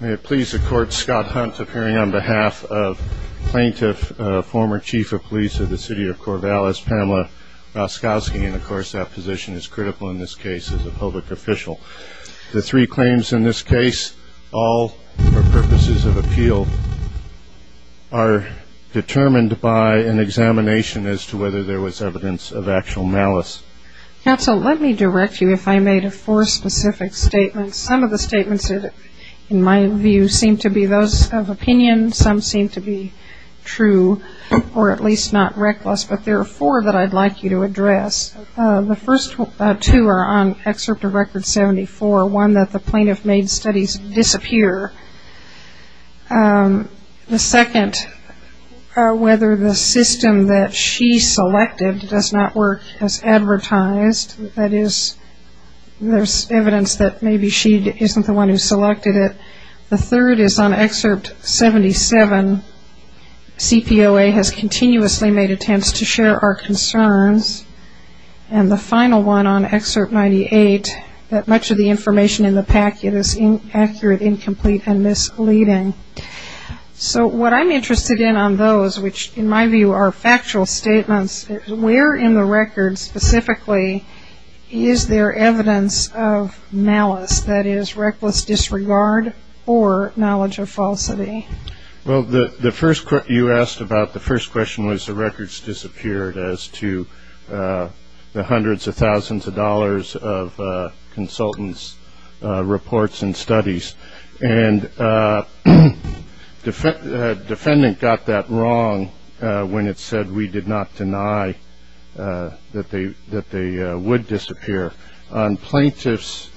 May it please the Court, Scott Hunt appearing on behalf of plaintiff, former Chief of Police of the City of Corvallis, Pamela Roskowski, and of course that position is critical in this case as a public official. The three claims in this case, all for purposes of appeal, are determined by an examination as to whether there was evidence of actual malice. Counsel, let me direct you if I may to four specific statements. Some of the statements in my view seem to be those of opinion, some seem to be true, or at least not reckless, but there are four that I'd like you to address. The first two are on Excerpt of Record 74, one that the plaintiff made studies disappear. The second, whether the system that she selected does not work as advertised, that is, there's evidence that maybe she isn't the one who selected it. The third is on Excerpt 77, CPOA has continuously made attempts to share our concerns. And the final one on Excerpt 98, that much of the information in the packet is inaccurate, incomplete, and misleading. So what I'm interested in on those, which in my view are factual statements, where in the record specifically is there evidence of malice, that is, reckless disregard or knowledge of falsity? Well, the first question you asked about, the first question was the records disappeared as to the hundreds of thousands of dollars of consultants' reports and studies. And the second question, when it said we did not deny that they would disappear, on Plaintiff's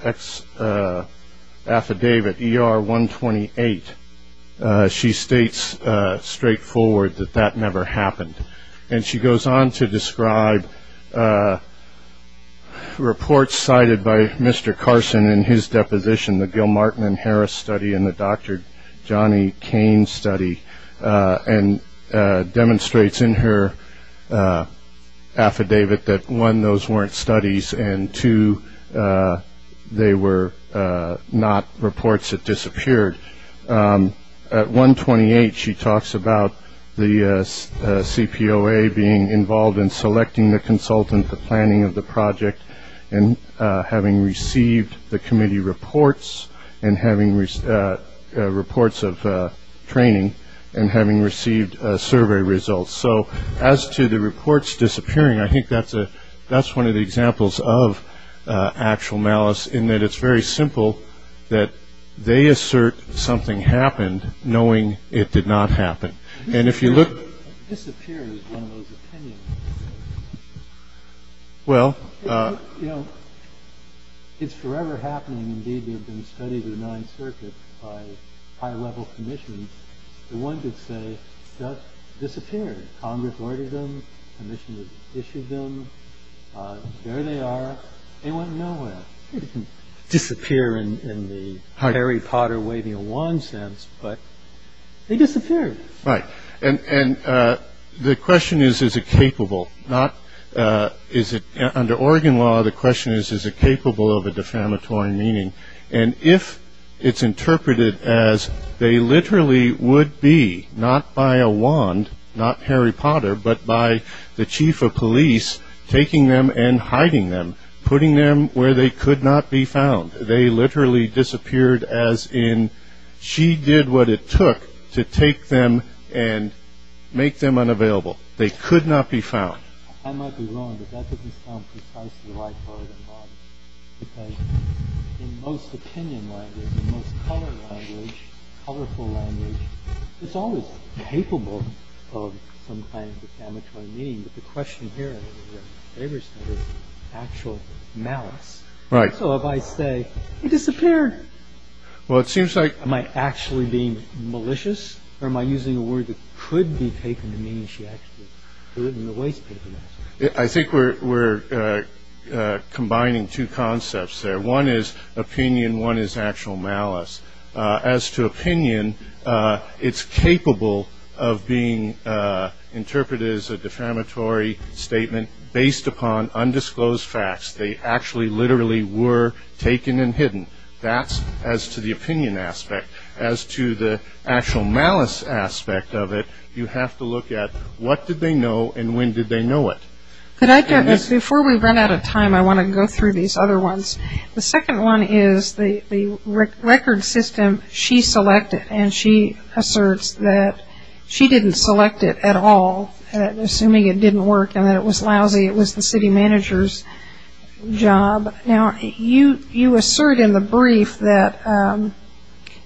affidavit ER 128, she states straightforward that that never happened. And she goes on to describe reports cited by Mr. Carson in his deposition, the Gilmartin and Harris study and the Dr. Johnny Kane study, and demonstrates in her affidavit that, one, those weren't studies, and two, they were not reports that disappeared. At 128, she talks about the CPOA being involved in selecting the consultant, the planning of the project, and having received the committee reports and having reports of training and having received survey results. So as to the reports disappearing, I think that's one of the examples of actual malice in that it's very simple that they assert something happened knowing it did not happen. And if you look It disappeared is one of those opinions. Well. You know, it's forever happening, indeed, they've been studied in the 9th circuit by high level commissions. And one could say that disappeared. Congress ordered them. Commissioners issued them. There they are. They went nowhere. Disappear in the Harry Potter waving a wand sense. But they disappeared. Right. And the question is, is it capable, not is it under Oregon law? The question is, is it capable of a defamatory meaning? And if it's interpreted as they literally would be not by a wand, not Harry Potter, but by the chief of police taking them and hiding them, putting them where they could not be found. They literally disappeared as in she did what it took to take them and make them unavailable. They could not be found. I might be wrong, but that doesn't sound precisely like Oregon law. Because in most opinion language, in most color language, colorful language, it's always capable of some kind of defamatory meaning. But the question here, in your favor statement, is actual malice. Right. So if I say, it disappeared. Well, it seems like. Am I actually being malicious? Or am I using a word that could be taken to mean she actually threw it in the waste bin? I think we're combining two concepts there. One is opinion. One is actual malice. As to opinion, it's capable of being interpreted as a defamatory statement based upon undisclosed facts. They actually literally were taken and hidden. That's as to the opinion aspect. As to the actual malice aspect of it, you have to look at what did they know and when did they know it. Could I address, before we run out of time, I want to go through these other ones. The second one is the record system she selected. And she asserts that she didn't select it at all, assuming it didn't work and that it was lousy. It was the city manager's job. Now, you assert in the brief that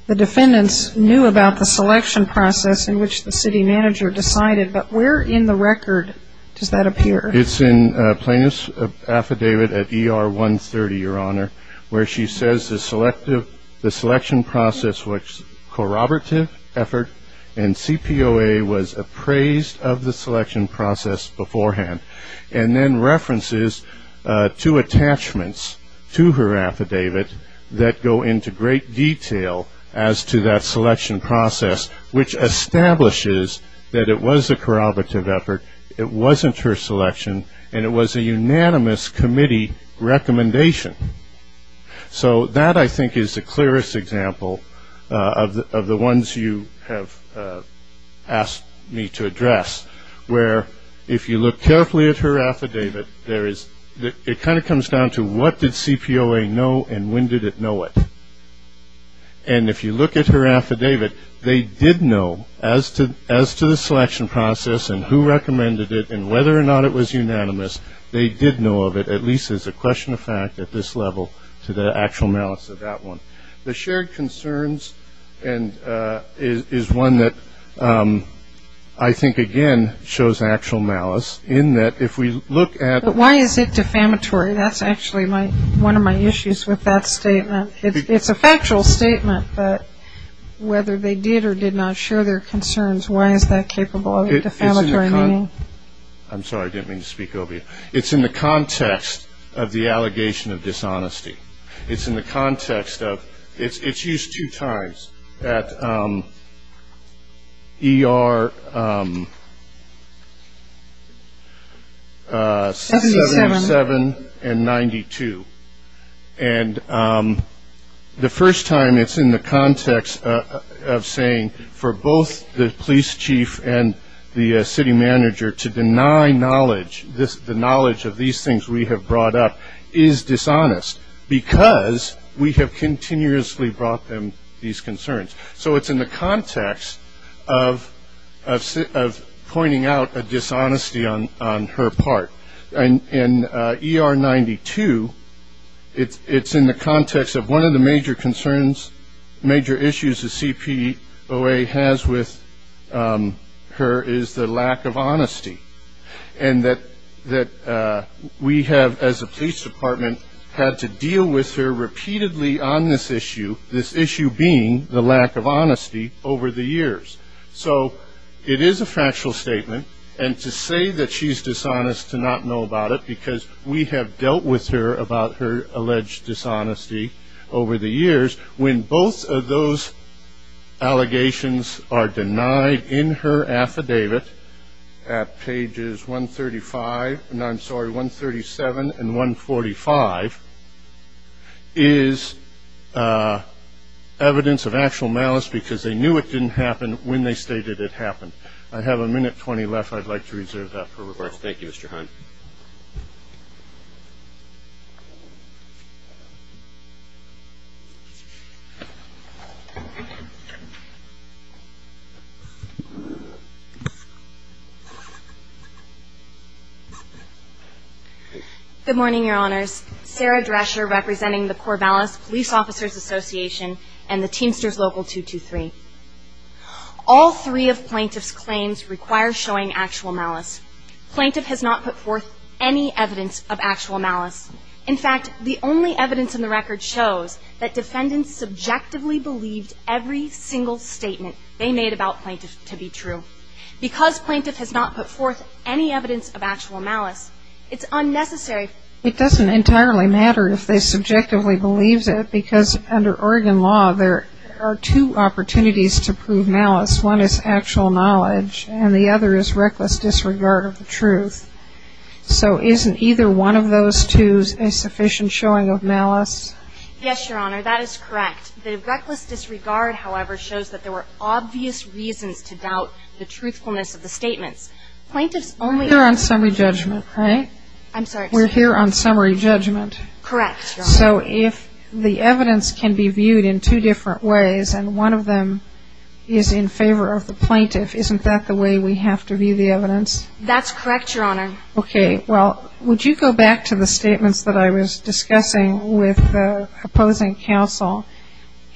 the defendants knew about the selection process in which the city manager decided. But where in the record does that appear? It's in plaintiff's affidavit at ER 130, Your Honor, where she says the selection process was corroborative effort. And CPOA was appraised of the selection process beforehand. And then references to attachments to her affidavit that go into great detail as to that selection process, which establishes that it was a corroborative effort, it wasn't her selection, and it was a unanimous committee recommendation. So that, I think, is the clearest example of the ones you have asked me to address. Where, if you look carefully at her affidavit, it kind of comes down to what did CPOA know and when did it know it? And if you look at her affidavit, they did know as to the selection process and who recommended it and whether or not it was unanimous. They did know of it, at least as a question of fact at this level, to the actual malice of that one. The shared concerns is one that I think, again, shows actual malice in that if we look at But why is it defamatory? That's actually one of my issues with that statement. It's a factual statement, but whether they did or did not share their concerns, why is that capable of a defamatory meaning? I'm sorry, I didn't mean to speak obviously. It's in the context of the allegation of dishonesty. It's in the context of, it's used two times at ER 77 and 92. And the first time it's in the context of saying for both the police chief and the city manager to deny knowledge, the knowledge of these things we have brought up is dishonest because we have continuously brought them these concerns. So it's in the context of pointing out a dishonesty on her part. And in ER 92, it's in the context of one of the major concerns, major issues the CPOA has with her is the lack of honesty. And that we have, as a police department, had to deal with her repeatedly on this issue, this issue being the lack of honesty over the years. So it is a factual statement. And to say that she's dishonest to not know about it because we have dealt with her about her alleged dishonesty over the years. When both of those allegations are denied in her affidavit at pages 135, no, I'm sorry, 137 and 145, is evidence of actual malice because they knew it didn't happen when they stated it happened. I have a minute 20 left. I'd like to reserve that for request. Thank you, Mr. Hunt. Good morning, your honors. Sarah Drescher representing the Corvallis Police Officers Association and the Teamsters Local 223. All three of plaintiff's claims require showing actual malice. Plaintiff has not put forth any evidence of actual malice. In fact, the only evidence in the record shows that defendants subjectively believed every single statement they made about plaintiff to be true. Because plaintiff has not put forth any evidence of actual malice, it's unnecessary. It doesn't entirely matter if they subjectively believes it because under Oregon law, there are two opportunities to prove malice. One is actual knowledge and the other is reckless disregard of the truth. So isn't either one of those two a sufficient showing of malice? Yes, your honor, that is correct. The reckless disregard, however, shows that there were obvious reasons to doubt the truthfulness of the statements. Plaintiff's only- We're here on summary judgment, right? I'm sorry. We're here on summary judgment. Correct, your honor. So if the evidence can be viewed in two different ways and one of them is in favor of the plaintiff, isn't that the way we have to view the evidence? That's correct, your honor. Okay. Well, would you go back to the statements that I was discussing with the opposing counsel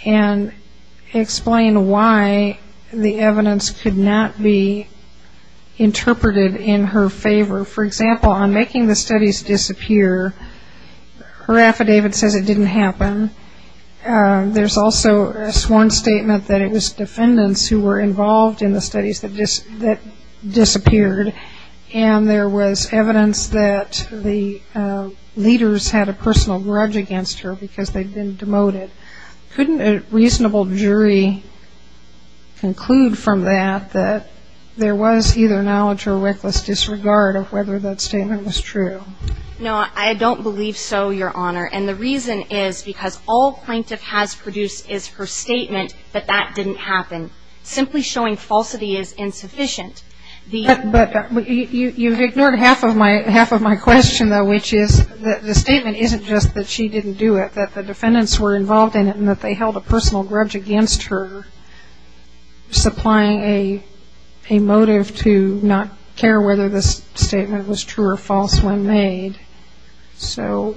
and explain why the evidence could not be interpreted in her favor? For example, on making the studies disappear, her affidavit says it didn't happen. There's also a sworn statement that it was defendants who were involved in the studies that disappeared. And there was evidence that the leaders had a personal grudge against her because they'd been demoted. Couldn't a reasonable jury conclude from that that there was either knowledge or reckless disregard of whether that statement was true? No, I don't believe so, your honor. And the reason is because all plaintiff has produced is her statement that that didn't happen. Simply showing falsity is insufficient. But you've ignored half of my question, though, which is that the statement isn't just that she didn't do it, that the defendants were involved in it and that they held a personal grudge against her, supplying a motive to not care whether this statement was true or false when made. So.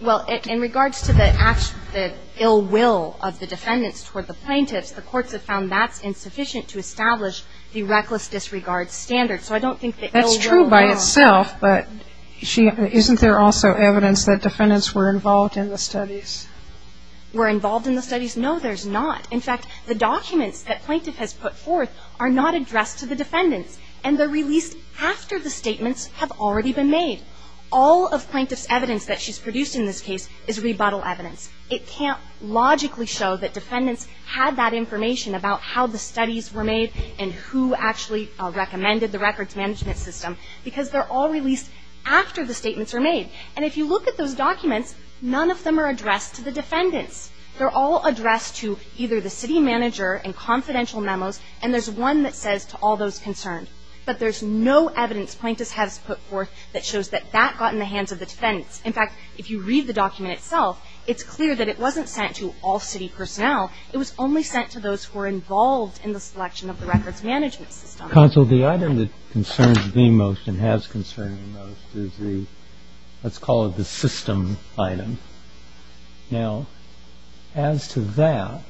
Well, in regards to the ill will of the defendants toward the plaintiffs, the courts have found that's insufficient to establish the reckless disregard standard. So I don't think the ill will. That's true by itself, but isn't there also evidence that defendants were involved in the studies? Were involved in the studies? No, there's not. In fact, the documents that plaintiff has put forth are not addressed to the defendants. And they're released after the statements have already been made. All of plaintiff's evidence that she's produced in this case is rebuttal evidence. It can't logically show that defendants had that information about how the studies were made and who actually recommended the records management system because they're all released after the statements are made. And if you look at those documents, none of them are addressed to the defendants. They're all addressed to either the city manager and confidential memos, and there's one that says to all those concerned. But there's no evidence plaintiff has put forth that shows that that got in the hands of the defendants. In fact, if you read the document itself, it's clear that it wasn't sent to all city personnel. It was only sent to those who were involved in the selection of the records management system. Counsel, the item that concerns me most and has concerned me most is the, let's call it the system item. Now, as to that,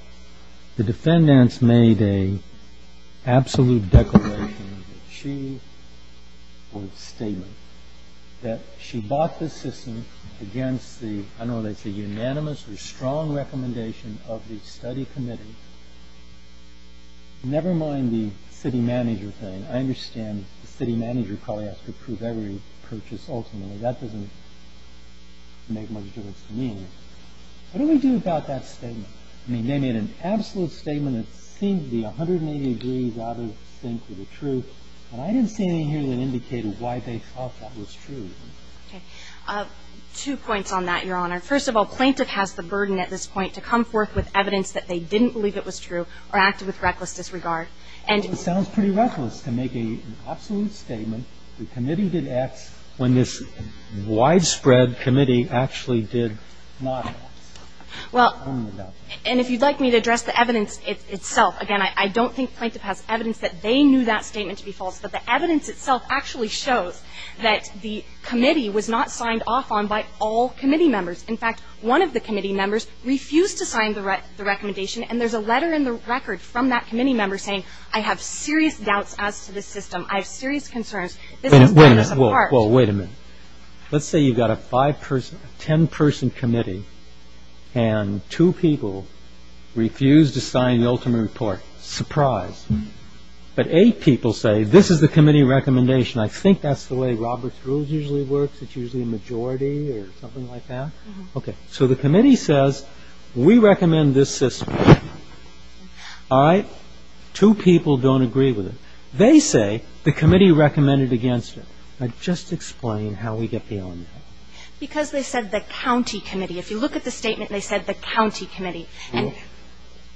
the defendants made a absolute declaration that she, or statement, that she bought the system against the, I don't know what they say, unanimous or strong recommendation of the study committee. Never mind the city manager thing. I understand the city manager probably has to approve every purchase ultimately. That doesn't make much difference to me anyway. What do we do about that statement? I mean, they made an absolute statement that seemed to be 180 degrees out of sync with the truth, and I didn't see anything here that indicated why they thought that was true. Okay. Two points on that, Your Honor. First of all, plaintiff has the burden at this point to come forth with evidence that they didn't believe it was true or acted with reckless disregard. And it sounds pretty reckless to make an absolute statement. The committee did X when this widespread committee actually did not X. Well, and if you'd like me to address the evidence itself, again, I don't think plaintiff has evidence that they knew that statement to be false, but the evidence itself actually shows that the committee was not signed off on by all committee members. In fact, one of the committee members refused to sign the recommendation, and there's a letter in the record from that committee member saying, I have serious doubts as to this system. I have serious concerns. Wait a minute. Well, wait a minute. Let's say you've got a five-person, ten-person committee, and two people refuse to sign the ultimate report. Surprise. But eight people say, this is the committee recommendation. I think that's the way Robert's Rules usually works. It's usually a majority or something like that. Okay. So the committee says, we recommend this system. All right? Two people don't agree with it. They say the committee recommended against it. Now, just explain how we get beyond that. Because they said the county committee. If you look at the statement, they said the county committee. And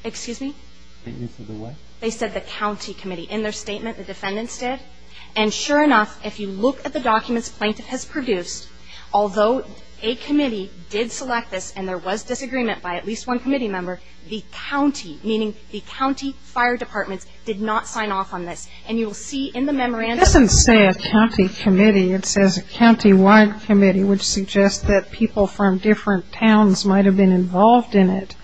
excuse me? They said the county committee. In their statement, the defendants did. And sure enough, if you look at the documents plaintiff has produced, although a committee did select this and there was disagreement by at least one committee member, the county, meaning the county fire departments, did not sign off on this. And you'll see in the memorandum. It doesn't say a county committee. It says a county-wide committee, which suggests that people from different towns might have been involved in it.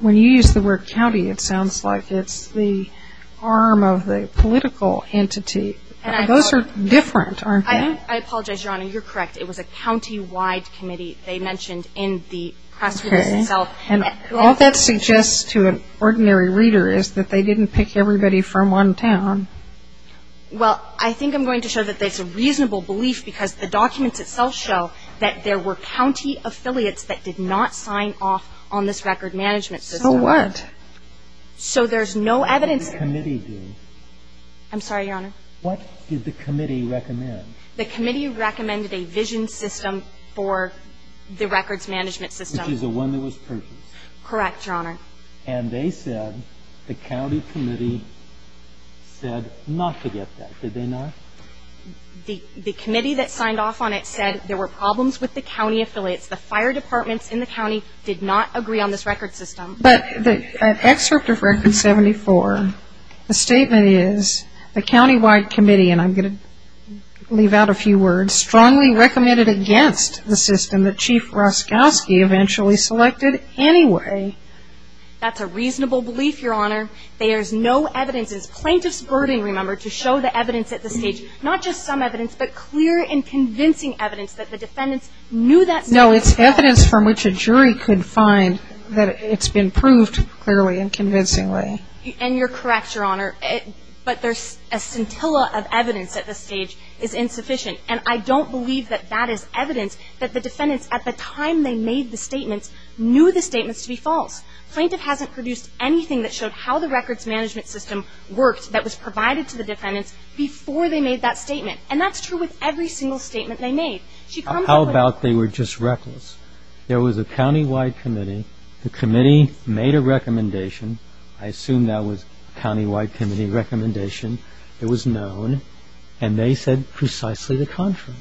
When you use the word county, it sounds like it's the arm of the political entity. Those are different, aren't they? I apologize, Your Honor. You're correct. It was a county-wide committee. They mentioned in the press release itself. And all that suggests to an ordinary reader is that they didn't pick everybody from one town. Well, I think I'm going to show that that's a reasonable belief because the documents itself show that there were county affiliates that did not sign off on this record management system. So what? So there's no evidence. What did the committee do? I'm sorry, Your Honor? What did the committee recommend? The committee recommended a vision system for the records management system. Which is the one that was purchased. Correct, Your Honor. And they said, the county committee said not to get that. Did they not? The committee that signed off on it said there were problems with the county affiliates. The fire departments in the county did not agree on this record system. But the excerpt of Record 74, the statement is, the county-wide committee, and I'm going to leave out a few words, strongly recommended against the system that Chief Roszkowski eventually selected anyway. That's a reasonable belief, Your Honor. There's no evidence. It's plaintiff's burden, remember, to show the evidence at the stage. Not just some evidence, but clear and convincing evidence that the defendants knew that system was false. No, it's evidence from which a jury could find that it's been proved clearly and convincingly. And you're correct, Your Honor. But a scintilla of evidence at this stage is insufficient. And I don't believe that that is evidence that the defendants, at the time they made the statements, knew the statements to be false. Plaintiff hasn't produced anything that showed how the records management system worked that was provided to the defendants before they made that statement. And that's true with every single statement they made. She comes up with How about they were just reckless? There was a county-wide committee. The committee made a recommendation. I assume that was county-wide committee recommendation. It was known. And they said precisely the contrary.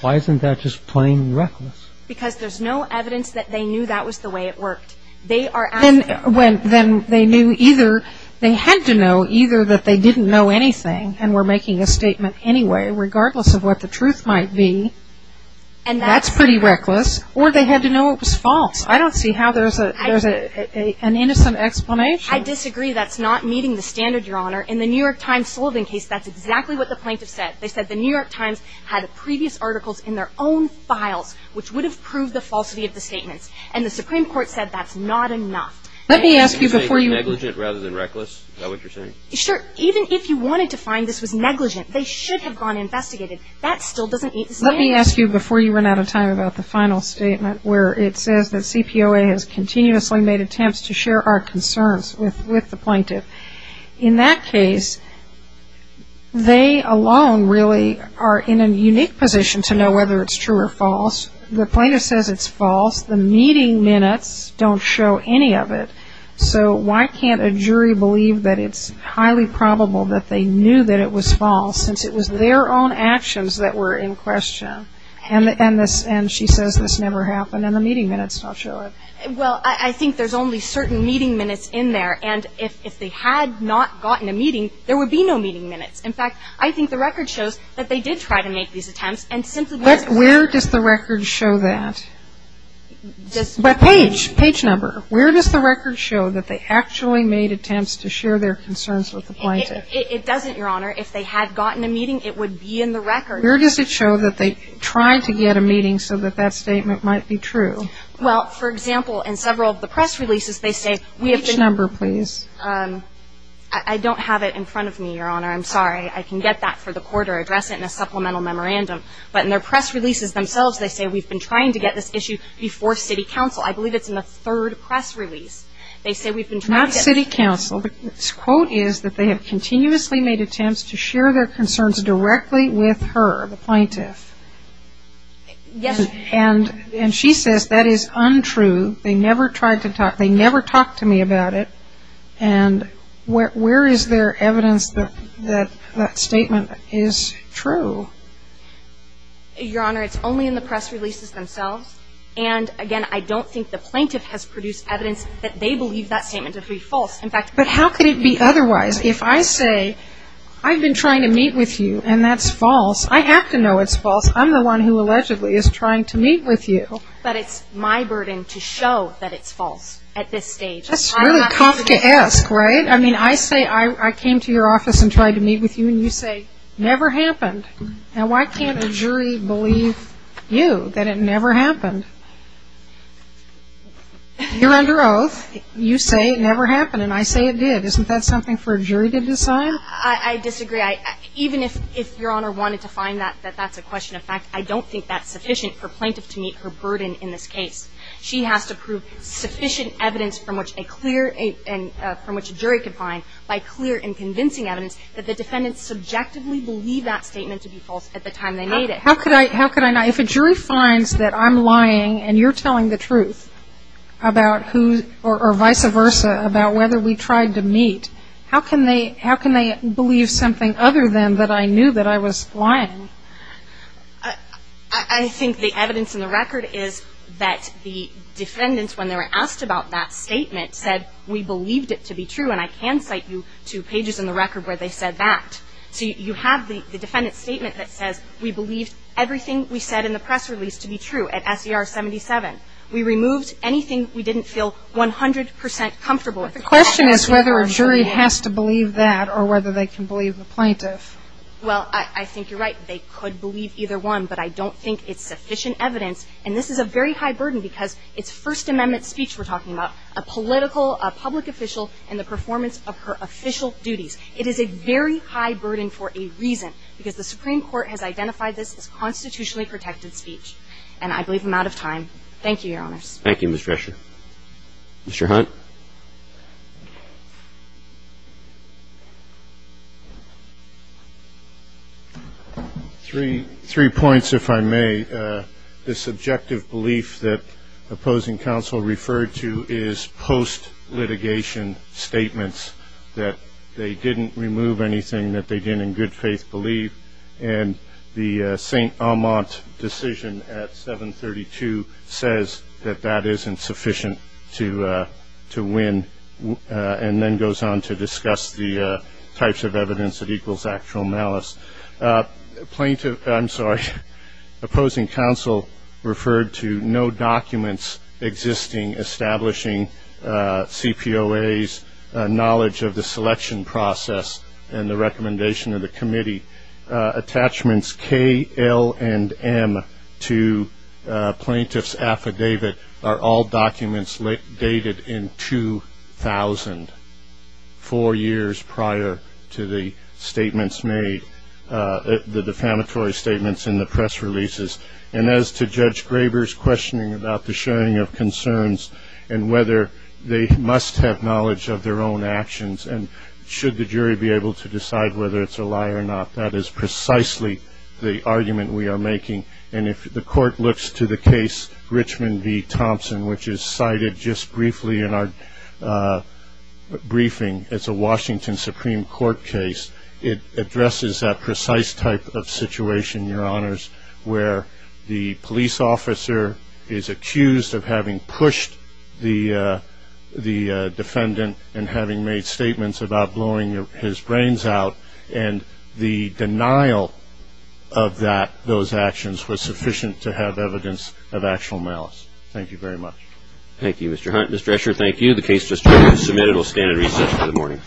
Why isn't that just plain reckless? Because there's no evidence that they knew that was the way it worked. They are asking. Then they knew either, they had to know either that they didn't know anything and were making a statement anyway, regardless of what the truth might be. And that's pretty reckless. Or they had to know it was false. I don't see how there's an innocent explanation. I disagree that's not meeting the standard, Your Honor. In the New York Times Sullivan case, that's exactly what the plaintiff said. They said the New York Times had previous articles in their own files, which would have proved the falsity of the statements. And the Supreme Court said that's not enough. Let me ask you before you. Negligent rather than reckless? Is that what you're saying? Sure. Even if you wanted to find this was negligent, they should have gone and investigated. That still doesn't make sense. Let me ask you before you run out of time about the final statement, where it says that CPOA has continuously made attempts to share our concerns with the plaintiff. In that case, they alone really are in a unique position to know whether it's true or false. The plaintiff says it's false. The meeting minutes don't show any of it. So why can't a jury believe that it's highly probable that they knew that it was false, since it was their own actions that were in question? And she says this never happened, and the meeting minutes don't show it. Well, I think there's only certain meeting minutes in there. And if they had not gotten a meeting, there would be no meeting minutes. In fact, I think the record shows that they did try to make these attempts, and simply weren't aware. Where does the record show that? By page, page number. Where does the record show that they actually made attempts to share their concerns with the plaintiff? It doesn't, Your Honor. If they had gotten a meeting, it would be in the record. Where does it show that they tried to get a meeting so that that statement might be true? Well, for example, in several of the press releases, they say, we have been. Page number, please. I don't have it in front of me, Your Honor. I'm sorry. I can get that for the court or address it in a supplemental memorandum. But in their press releases themselves, they say, we've been trying to get this issue before city council. I believe it's in the third press release. They say we've been trying to get. Not city council. The quote is that they have continuously made attempts to share their concerns directly with her, the plaintiff. Yes. And she says that is untrue. They never tried to talk. They never talked to me about it. And where is there evidence that that statement is true? Your Honor, it's only in the press releases themselves. And again, I don't think the plaintiff has produced evidence that they believe that statement to be false. In fact, how could it be otherwise? If I say, I've been trying to meet with you, and that's false, I have to know it's false. I'm the one who allegedly is trying to meet with you. But it's my burden to show that it's false at this stage. That's really Kafkaesque, right? I mean, I say, I came to your office and tried to meet with you. And you say, never happened. Now, why can't a jury believe you, that it never happened? You're under oath. You say it never happened. And I say it did. Isn't that something for a jury to decide? I disagree. Even if Your Honor wanted to find that, that that's a question of fact, I don't think that's sufficient for a plaintiff to meet her burden in this case. She has to prove sufficient evidence from which a jury could find, by clear and convincing evidence, that the defendants subjectively believe that statement to be false at the time they made it. How could I not? If a jury finds that I'm lying, and you're telling the truth about who, or vice versa, about whether we tried to meet, how can they believe something other than that I knew that I was lying? I think the evidence in the record is that the defendants, when they were asked about that statement, said, we believed it to be true. And I can cite you to pages in the record where they said that. So you have the defendant's statement that says, we believed everything we said in the press release to be true at SER 77. We removed anything we didn't feel 100% comfortable with. The question is whether a jury has to believe that, or whether they can believe the plaintiff. Well, I think you're right. They could believe either one, but I don't think it's sufficient evidence. And this is a very high burden, because it's First Amendment speech we're talking about, a political, a public official, and the performance of her official duties. It is a very high burden for a reason, because the Supreme Court has identified this as constitutionally protected speech, and I believe I'm out of time. Thank you, Your Honors. Thank you, Ms. Drescher. Mr. Hunt? Three points, if I may. The subjective belief that opposing counsel referred to is post-litigation statements that they didn't remove anything that they didn't in good faith believe. And the St. Amant decision at 732 says that that isn't sufficient to win, and then goes on to discuss the types of evidence that equals actual malice. Plaintiff, I'm sorry, opposing counsel referred to no documents existing establishing CPOA's knowledge of the selection process and the recommendation of the committee. Attachments KL and M to plaintiff's affidavit are all documents dated in 2000, four years prior to the statements made, the defamatory statements in the press releases. And as to Judge Graber's questioning about the sharing of concerns and whether they must have knowledge of their own actions, and should the jury be able to decide whether it's a lie or not, that is precisely the argument we are making. And if the court looks to the case Richmond v. Thompson, which is cited just briefly in our briefing, it's a Washington Supreme Court case. It addresses that precise type of situation, Your Honors, where the police officer is accused of having pushed the defendant and having made statements about blowing his brains out. And the denial of those actions was sufficient to have evidence of actual malice. Thank you very much. Thank you, Mr. Hunt. Mr. Escher, thank you. The case just submitted will stand in recess for the morning.